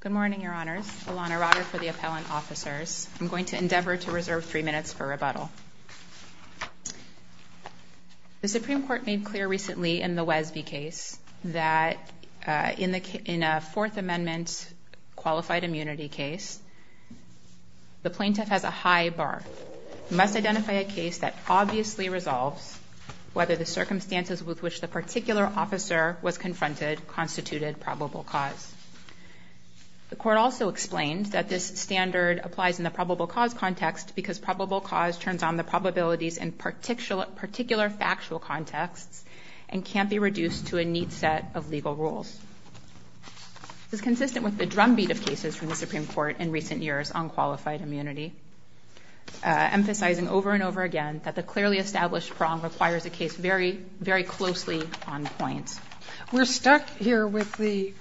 Good morning, Your Honors. Alana Rotter for the Appellant Officers. I'm going to endeavor to reserve three minutes for rebuttal. The Supreme Court made clear recently in the Wesby case that in a Fourth Amendment qualified immunity case, the plaintiff has a high bar. We must identify a case that obviously resolves whether the circumstances with which the particular officer was confronted constituted probable cause. The court also explained that this standard applies in the probable cause context because probable cause turns on the probabilities in particular factual contexts and can't be reduced to a neat set of legal rules. This is consistent with the drumbeat of cases from the Supreme Court in recent years on qualified immunity, emphasizing over and over again that the clearly established prong requires a case very, very closely on points. We're stuck here with the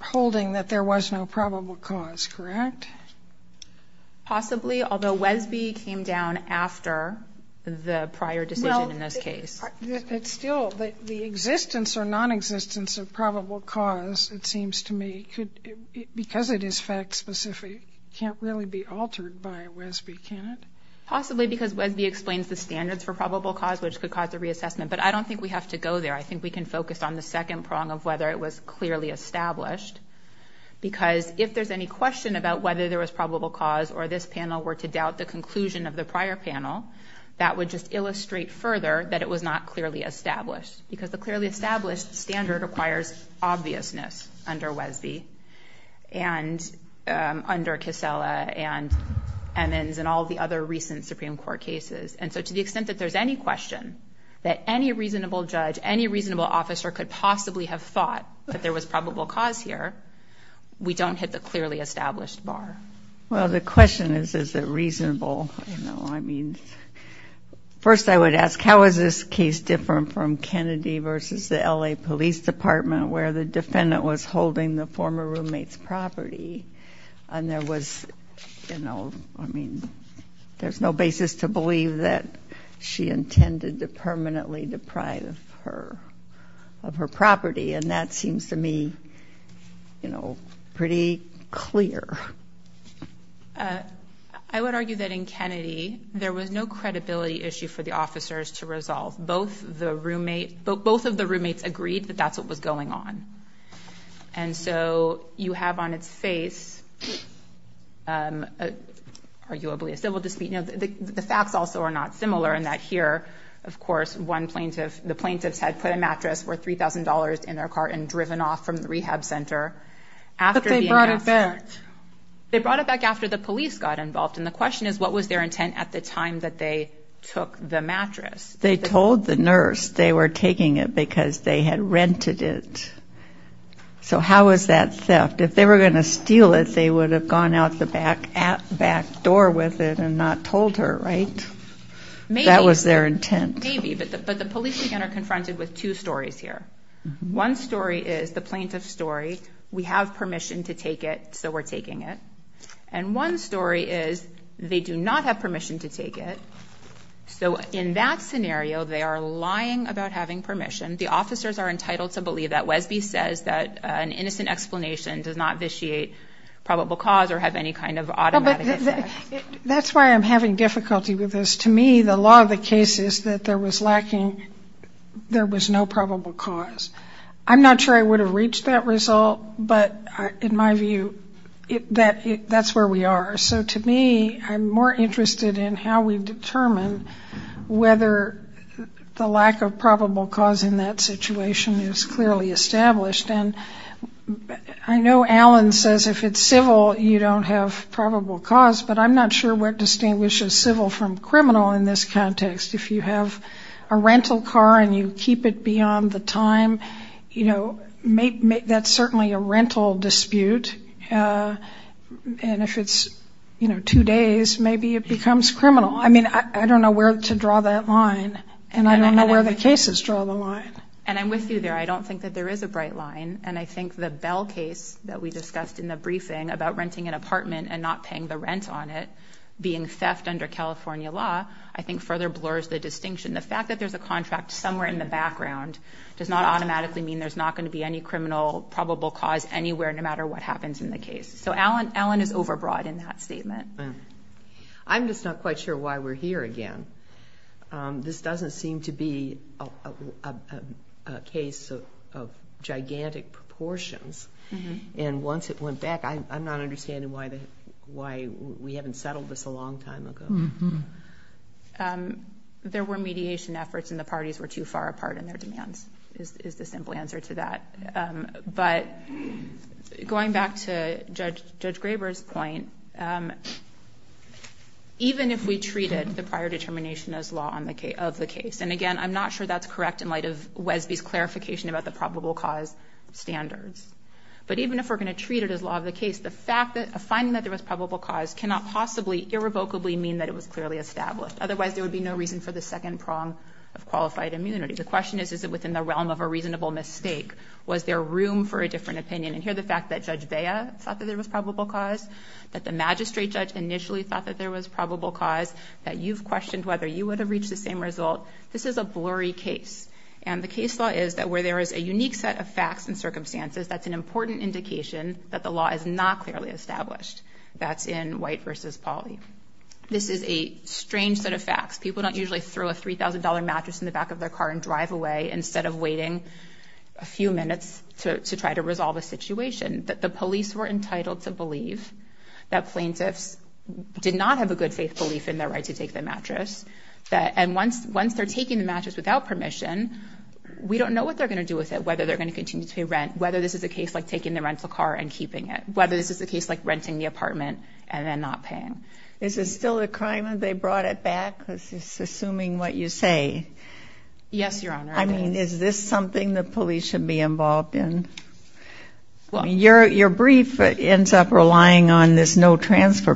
holding that there was no probable cause, correct? Possibly, although Wesby came down after the prior decision in this case. It's still the existence or non-existence of probable cause, it seems to me, because it is fact-specific, can't really be altered by Wesby, can it? Possibly because Wesby explains the standards for probable cause, which could cause a reassessment, but I don't think we have to go there. I think we can focus on the second prong of whether it was clearly established, because if there's any question about whether there was probable cause or this panel were to doubt the conclusion of the prior panel, that would just illustrate further that it was not clearly established, because the clearly established standard requires obviousness under Wesby and under Casella and Emmons and all the other recent Supreme Court cases. And so to the extent that there's any question that any reasonable judge, any reasonable officer could possibly have thought that there was probable cause here, we don't hit the clearly established bar. Well, the question is, is it reasonable? I mean, first I would ask, how is this case different from Kennedy v. the L.A. Police Department, where the defendant was holding the former roommate's property, and there was, you know, I mean, there's no basis to believe that she intended to permanently deprive her of her property, and that seems to me, you know, pretty clear. I would argue that in Kennedy, there was no credibility issue for the officers to resolve. Both of the roommates agreed that that's what was going on. And so you have on its face, arguably, a civil dispute. You know, the facts also are not similar in that here, of course, the plaintiffs had put a mattress worth $3,000 in their cart and driven off from the rehab center after being asked. But they brought it back. They brought it back after the police got involved, and the question is, what was their intent? They took the mattress. They told the nurse they were taking it because they had rented it. So how was that theft? If they were going to steal it, they would have gone out the back door with it and not told her, right? That was their intent. Maybe, but the police again are confronted with two stories here. One story is the plaintiff's story, we have permission to take it, so we're taking it. And one story is, they do not have So in that scenario, they are lying about having permission. The officers are entitled to believe that. Wesby says that an innocent explanation does not vitiate probable cause or have any kind of automatic effect. That's why I'm having difficulty with this. To me, the law of the case is that there was lacking, there was no probable cause. I'm not sure I would have reached that result, but in my view, that's where we are. So to me, I'm more interested in how we determine whether the lack of probable cause in that situation is clearly established. And I know Alan says if it's civil, you don't have probable cause, but I'm not sure what distinguishes civil from criminal in this context. If you have a rental car and you keep it beyond the time, you know, that's certainly a rental dispute. And if it's, you know, two days, maybe it becomes criminal. I mean, I don't know where to draw that line. And I don't know where the cases draw the line. And I'm with you there. I don't think that there is a bright line. And I think the Bell case that we discussed in the briefing about renting an apartment and not paying the rent on it, being theft under California law, I think further blurs the distinction. The fact that there's a contract somewhere in the background does not automatically mean there's not going to be any criminal probable cause anywhere, no matter what happens in the case. So Alan is overbroad in that statement. I'm just not quite sure why we're here again. This doesn't seem to be a case of gigantic proportions. And once it went back, I'm not understanding why we haven't settled this a long time ago. There were mediation efforts and the parties were too far apart in their demands, is the simple answer to that. But going back to Judge Graber's point, even if we treated the prior determination as law of the case, and again, I'm not sure that's correct in light of Wesby's probable cause standards. But even if we're going to treat it as law of the case, the fact that a finding that there was probable cause cannot possibly irrevocably mean that it was clearly established. Otherwise, there would be no reason for the second prong of qualified immunity. The question is, is it within the realm of a reasonable mistake? Was there room for a different opinion? And here, the fact that Judge Vea thought that there was probable cause, that the magistrate judge initially thought that there was probable cause, that you've questioned whether you would have reached the same result. This is a blurry case. And the case law is that where there is a unique set of facts and circumstances, that's an important indication that the law is not clearly established. That's in White v. Pauley. This is a strange set of facts. People don't usually throw a $3,000 mattress in the back of their car and drive away instead of waiting a few minutes to try to resolve a situation. That the police were entitled to believe that plaintiffs did not have a good faith belief in their right to take the mattress. And once they're taking the mattress without permission, we don't know what they're going to do with it, whether they're going to continue to pay rent, whether this is a case like taking the rental car and keeping it, whether this is a case like renting the apartment and then not paying. Is this still a crime if they brought it back? Assuming what you say. Yes, Your Honor. Is this something the police should be involved in? Your brief ends up relying on this no transfer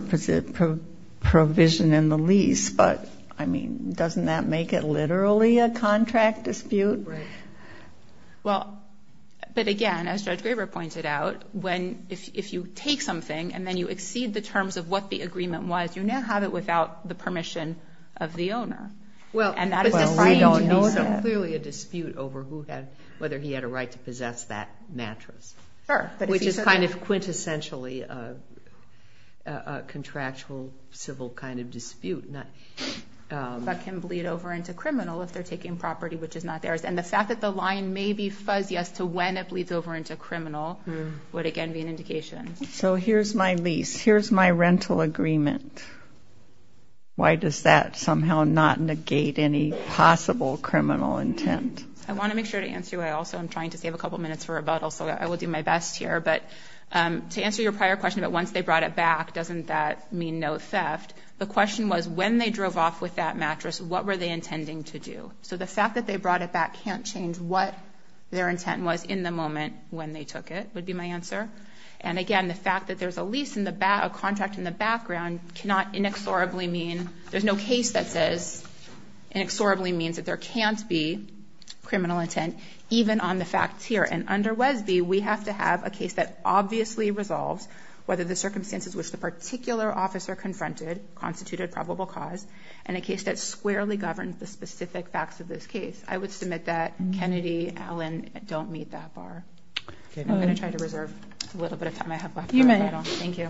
provision in the lease, but I mean, doesn't that make it literally a contract dispute? Right. Well, but again, as Judge Graber pointed out, if you take something and then you exceed the terms of what the agreement was, you now have it without the permission of the owner. And that is a crime to be said. Well, we don't know. There's clearly a dispute over whether he had a right to possess that mattress. Sure. But which is kind of quintessentially a contractual civil kind of dispute that can bleed over into criminal if they're taking property which is not theirs. And the fact that the line may be fuzzy as to when it bleeds over into criminal would again be an indication. So here's my lease. Here's my rental agreement. Why does that somehow not negate any possible criminal intent? I want to make sure to answer you. I also am trying to save a couple of minutes for rebuttal, so I will do my best here. But to answer your prior question about once they brought it back, doesn't that mean no theft? The question was when they drove off with that mattress, what were they intending to do? So the fact that they brought it back can't change what their intent was in the moment when they took it would be my answer. And again, the fact that there's a lease in the back, a contract in the background cannot inexorably mean, there's no case that says inexorably means that there can't be criminal intent even on the facts here. And under Wesby, we have to have a case that obviously resolves whether the circumstances which the particular officer confronted constituted probable cause and a case that squarely governed the specific facts of this case. I would submit that Kennedy, Allen don't meet that bar. I'm going to try to reserve a little bit of time I have left for rebuttal. You may. Thank you.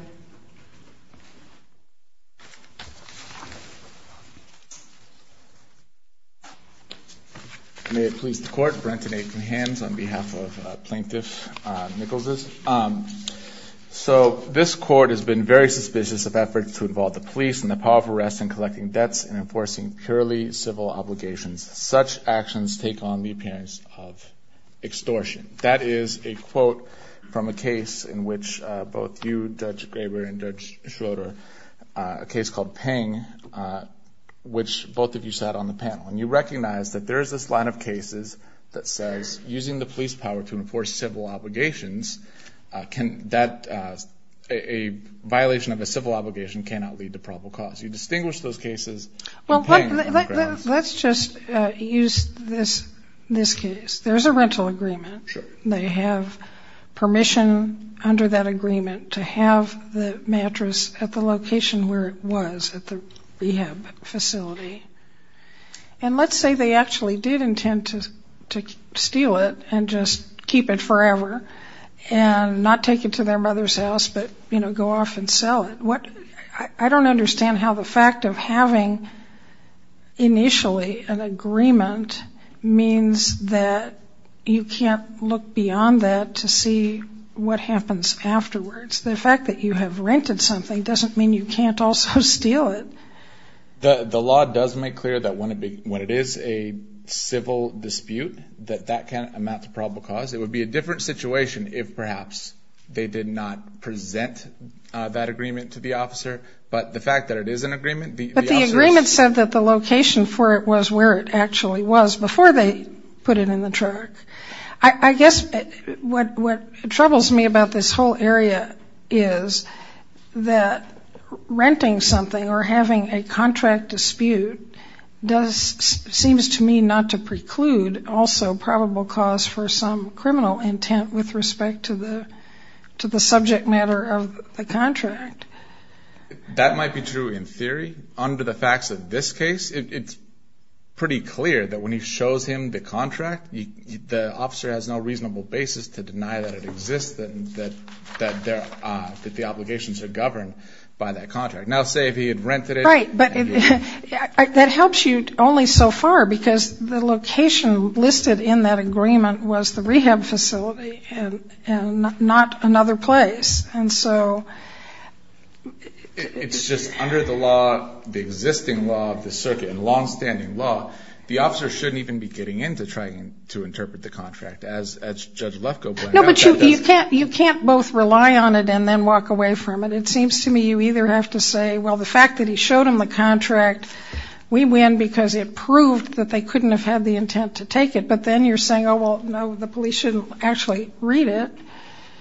May it please the court, Brent and Adrian Hans on behalf of Plaintiff Nichols. So this court has been very suspicious of efforts to involve the police in the power of arrest and collecting debts and enforcing purely civil obligations. Such actions take on the appearance of extortion. That is a quote from a case in which both you, Judge Graber and Judge Schroeder, a case called Ping, which both of you sat on the panel. And you recognize that there is this line of cases that says using the police power to enforce civil obligations, a violation of a civil obligation cannot lead to probable cause. You distinguish those cases. Well, let's just use this case. There's a rental agreement. They have permission under that agreement to have the mattress at the location where it was at the rehab facility. And let's say they actually did intend to steal it and just keep it forever and not take it to their mother's house, but go off and sell it. I don't understand how the fact of having initially an agreement means that you can't look beyond that to see what happens afterwards. The fact that you have rented something doesn't mean you can't also steal it. The law does make clear that when it is a civil dispute, that that can amount to probable cause. It would be a different situation if perhaps they did not present that agreement to the officer. But the fact that it is an agreement, the officer is... But the agreement said that the location for it was where it actually was before they put it in the truck. I guess what troubles me about this whole area is that renting something or having a criminal intent with respect to the subject matter of the contract. That might be true in theory. Under the facts of this case, it's pretty clear that when he shows him the contract, the officer has no reasonable basis to deny that it exists, that the obligations are governed by that contract. Now, say if he had rented it... Right, but that helps you only so far because the location listed in that agreement was the rehab facility and not another place. And so... It's just under the law, the existing law of the circuit and long-standing law, the officer shouldn't even be getting into trying to interpret the contract as Judge Lefkoe pointed out. No, but you can't both rely on it and then walk away from it. It seems to me you either have to say, well, the fact that he showed him the contract, we win because it proved that they couldn't have had the intent to take it. But then you're saying, oh, well, no, the police shouldn't actually read it.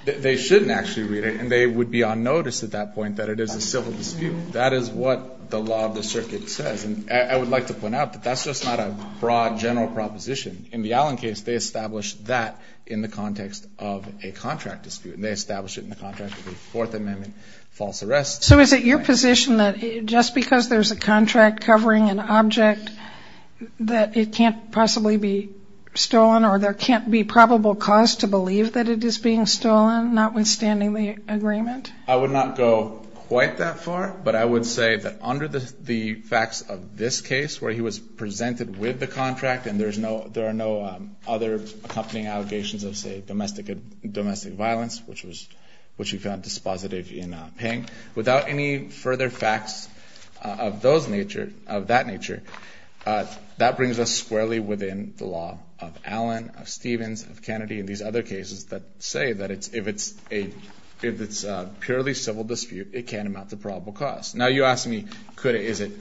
They shouldn't actually read it. And they would be on notice at that point that it is a civil dispute. That is what the law of the circuit says. And I would like to point out that that's just not a broad general proposition. In the Allen case, they established that in the context of a contract dispute. They established it in the context of a Fourth Amendment false arrest. So is it your position that just because there's a contract covering an object, that it can't possibly be stolen or there can't be probable cause to believe that it is being stolen, notwithstanding the agreement? I would not go quite that far. But I would say that under the facts of this case, where he was presented with the contract and there are no other accompanying allegations of, say, domestic violence, which we found dispositive in Ping, without any further facts of that nature, that brings us squarely with in the law of Allen, of Stevens, of Kennedy, and these other cases that say that if it's a purely civil dispute, it can amount to probable cause. Now you ask me, is it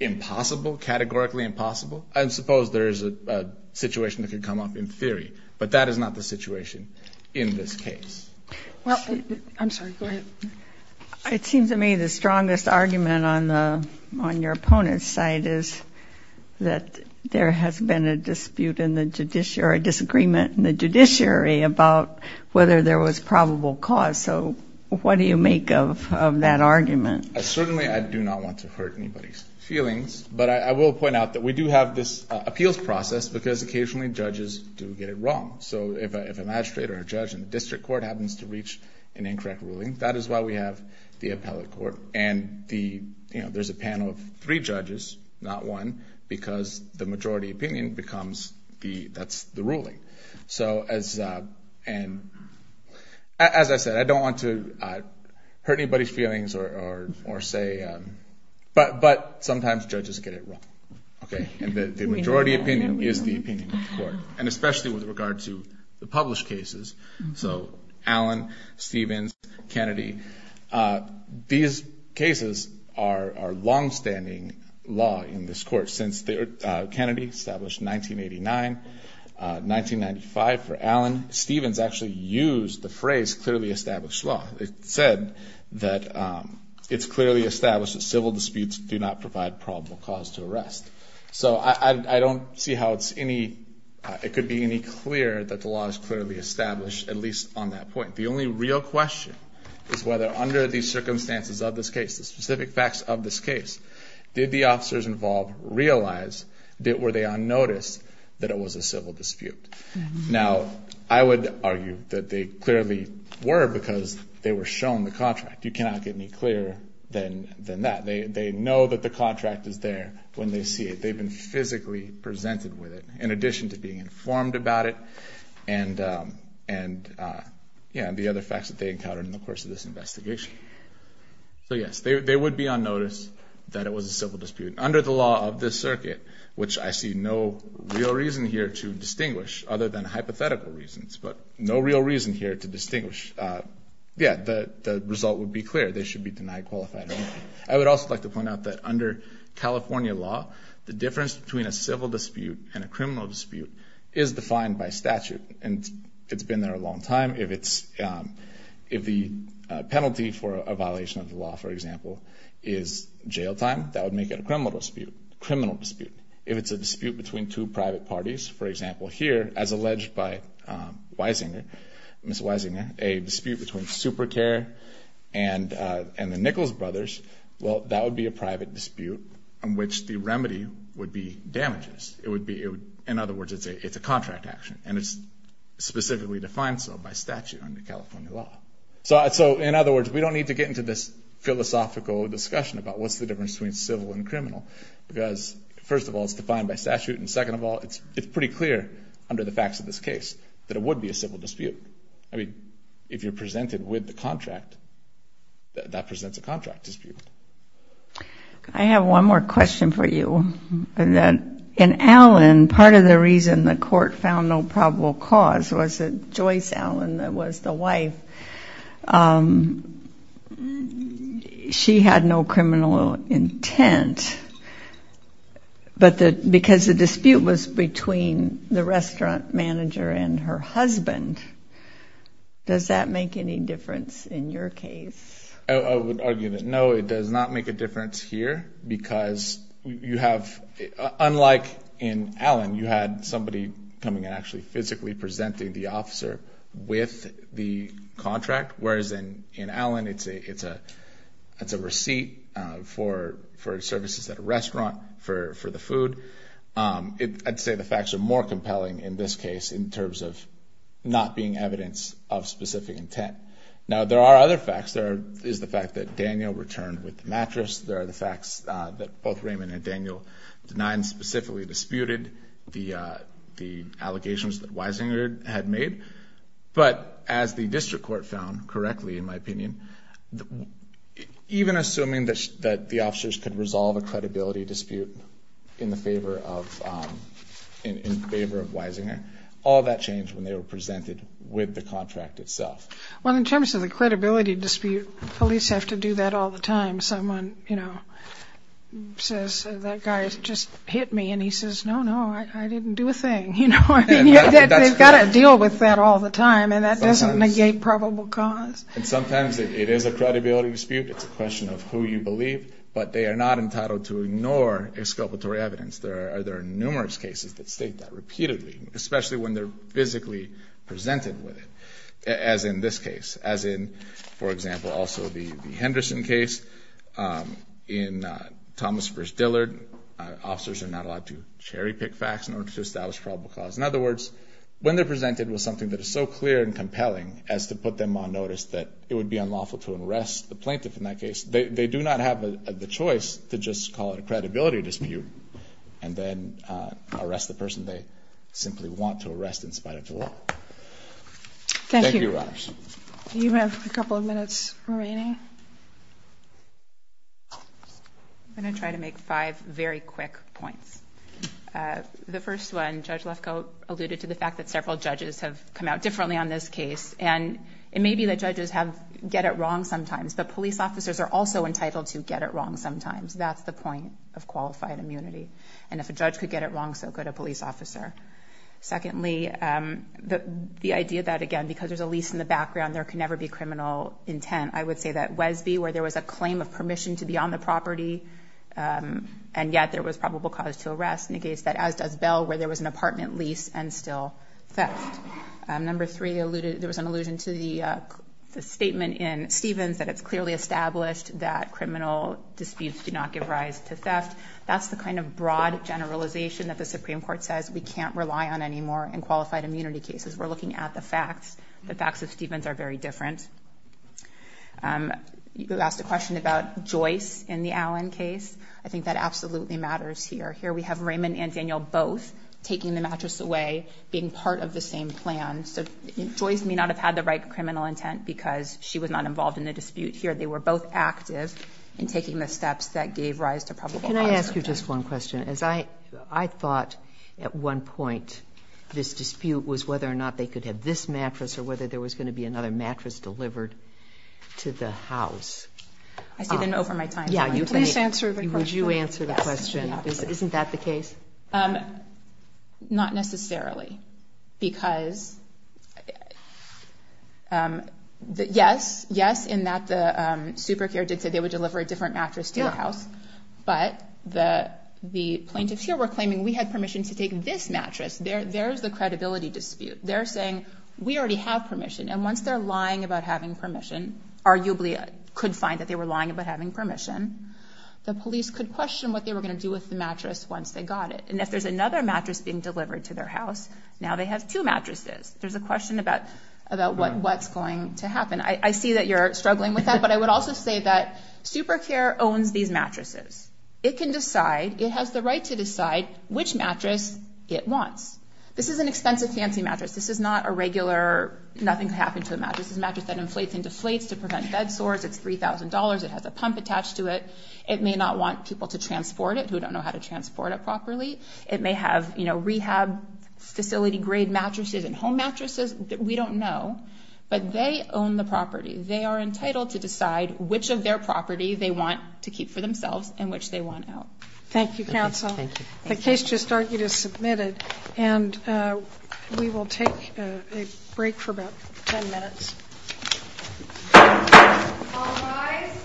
impossible, categorically impossible? I suppose there is a situation that could come up in theory, but that is not the situation in this case. I'm sorry. Go ahead. It seems to me the strongest argument on your opponent's side is that there has been a dispute in the judiciary, or a disagreement in the judiciary, about whether there was probable cause. So what do you make of that argument? Certainly, I do not want to hurt anybody's feelings. But I will point out that we do have this appeals process because occasionally judges do get it wrong. So if a magistrate or a judge in the district court happens to reach an incorrect ruling, that is why we have the appellate court. And there's a panel of three judges, not one, because the majority opinion becomes the ruling. So as I said, I don't want to hurt anybody's feelings or say, but sometimes judges get it wrong. Okay? And the majority opinion is the opinion of the court. And especially with regard to the published cases. So Allen, Stevens, Kennedy, these cases are longstanding law in this court. Since Kennedy established in 1989, 1995 for Allen, Stevens actually used the phrase clearly established law. It said that it's clearly established that civil disputes do not provide probable cause to arrest. So I don't see how it could be any clearer that the law is clearly established, at least on that point. The only real question is whether under the circumstances of this case, the specific facts of this case, did the officers involved realize, were they on notice that it was a civil dispute? Now I would argue that they clearly were because they were shown the contract. You cannot get any clearer than that. They know that the contract is there when they see it. They've been physically presented with it, in addition to being informed about it, and the other facts that they encountered in the course of this investigation. So yes, they would be on notice that it was a civil dispute. Under the law of this circuit, which I see no real reason here to distinguish, other than hypothetical reasons, but no real reason here to distinguish, yeah, the result would be clear. They should be denied qualified ownership. I would also like to point out that under California law, the difference between a civil dispute and a criminal dispute is defined by statute, and it's been there a long time. If the penalty for a violation of the law, for example, is jail time, that would make it a criminal dispute. If it's a dispute between two private parties, for example here, as alleged by Weisinger, Ms. Weisinger, a dispute between Supercare and the Nichols brothers, well, that would be a private dispute in which the remedy would be damages. In other words, it's a contract action, and it's specifically defined so by statute under California law. So in other words, we don't need to get into this philosophical discussion about what's the difference between civil and criminal, because first of all, it's defined by statute, and second of all, it's pretty clear under the facts of this case that it would be a dispute. I mean, if you're presented with the contract, that presents a contract dispute. I have one more question for you, and that in Allen, part of the reason the court found no probable cause was that Joyce Allen was the wife. She had no criminal intent, but because the dispute was between the restaurant manager and her husband, does that make any difference in your case? I would argue that no, it does not make a difference here, because you have, unlike in Allen, you had somebody coming and actually physically presenting the officer with the contract, whereas in Allen, it's a receipt for services at a restaurant for the food. I'd say the facts are more compelling in this case in terms of not being evidence of specific intent. Now, there are other facts. There is the fact that Daniel returned with the mattress. There are the facts that both Raymond and Daniel denied and specifically disputed the allegations that Weisinger had made. But as the district court found correctly, in my opinion, even assuming that the officers could resolve a credibility dispute in favor of Weisinger, all that changed when they were presented with the contract itself. Well, in terms of the credibility dispute, police have to do that all the time. Someone says, that guy just hit me, and he says, no, no, I didn't do a thing. They've got to deal with that all the time, and that doesn't negate probable cause. And sometimes it is a credibility dispute. It's a question of who you believe, but they are not entitled to ignore exculpatory evidence. There are numerous cases that state that repeatedly, especially when they're physically presented with it, as in this case, as in, for example, also the Henderson case. In Thomas v. Dillard, officers are not allowed to cherry-pick facts in order to establish probable cause. In other words, when they're presented with something that is so clear and compelling as to put them on notice that it would be unlawful to arrest the plaintiff in that case, they do not have the choice to just call it a credibility dispute and then arrest the person they simply want to arrest in spite of the law. Thank you. Thank you, Your Honors. You have a couple of minutes remaining. I'm going to try to make five very quick points. The first one, Judge Lefkoe alluded to the fact that several judges have come out differently on this case. And it may be that judges get it wrong sometimes, but police officers are also entitled to get it wrong sometimes. That's the point of qualified immunity. And if a judge could get it wrong, so could a police officer. Secondly, the idea that, again, because there's a lease in the background, there can never be criminal intent. I would say that Wesby, where there was a claim of permission to be on the property and yet there was probable cause to arrest, negates that, as does Bell, where there was an apartment lease and still theft. Number three, there was an allusion to the statement in Stevens that it's clearly established that criminal disputes do not give rise to theft. That's the kind of broad generalization that the Supreme Court says we can't rely on anymore in qualified immunity cases. We're looking at the facts. The facts of Stevens are very different. You asked a question about Joyce in the Allen case. I think that absolutely matters here. Here we have Raymond and Daniel both taking the mattress away, being part of the same plan. So Joyce may not have had the right criminal intent because she was not involved in the dispute here. They were both active in taking the steps that gave rise to probable cause. Can I ask you just one question? I thought at one point this dispute was whether or not they could have this mattress or whether there was going to be another mattress delivered to the house. Please answer the question. Would you answer the question? Isn't that the case? Not necessarily because, yes, yes, in that the super care did say they would deliver a different mattress to the house. But the plaintiffs here were claiming we had permission to take this mattress. There's the credibility dispute. They're saying we already have permission. And once they're lying about having permission, arguably could find that they were lying about having permission, the police could question what they were going to do with the mattress once they got it. And if there's another mattress being delivered to their house, now they have two mattresses. There's a question about what's going to happen. I see that you're struggling with that. But I would also say that super care owns these mattresses. It can decide. It has the right to decide which mattress it wants. This is an expensive, fancy mattress. This is not a regular, nothing's happened to the mattress. This is a mattress that inflates and deflates to prevent bed sores. It's $3,000. It has a pump attached to it. It may not want people to transport it who don't know how to transport it properly. It may have, you know, rehab facility grade mattresses and home mattresses that we don't know. But they own the property. They are entitled to decide which of their property they want to keep for themselves and which they want out. Thank you, counsel. Thank you. The case just argued is submitted and we will take a break for about 10 minutes. All rise.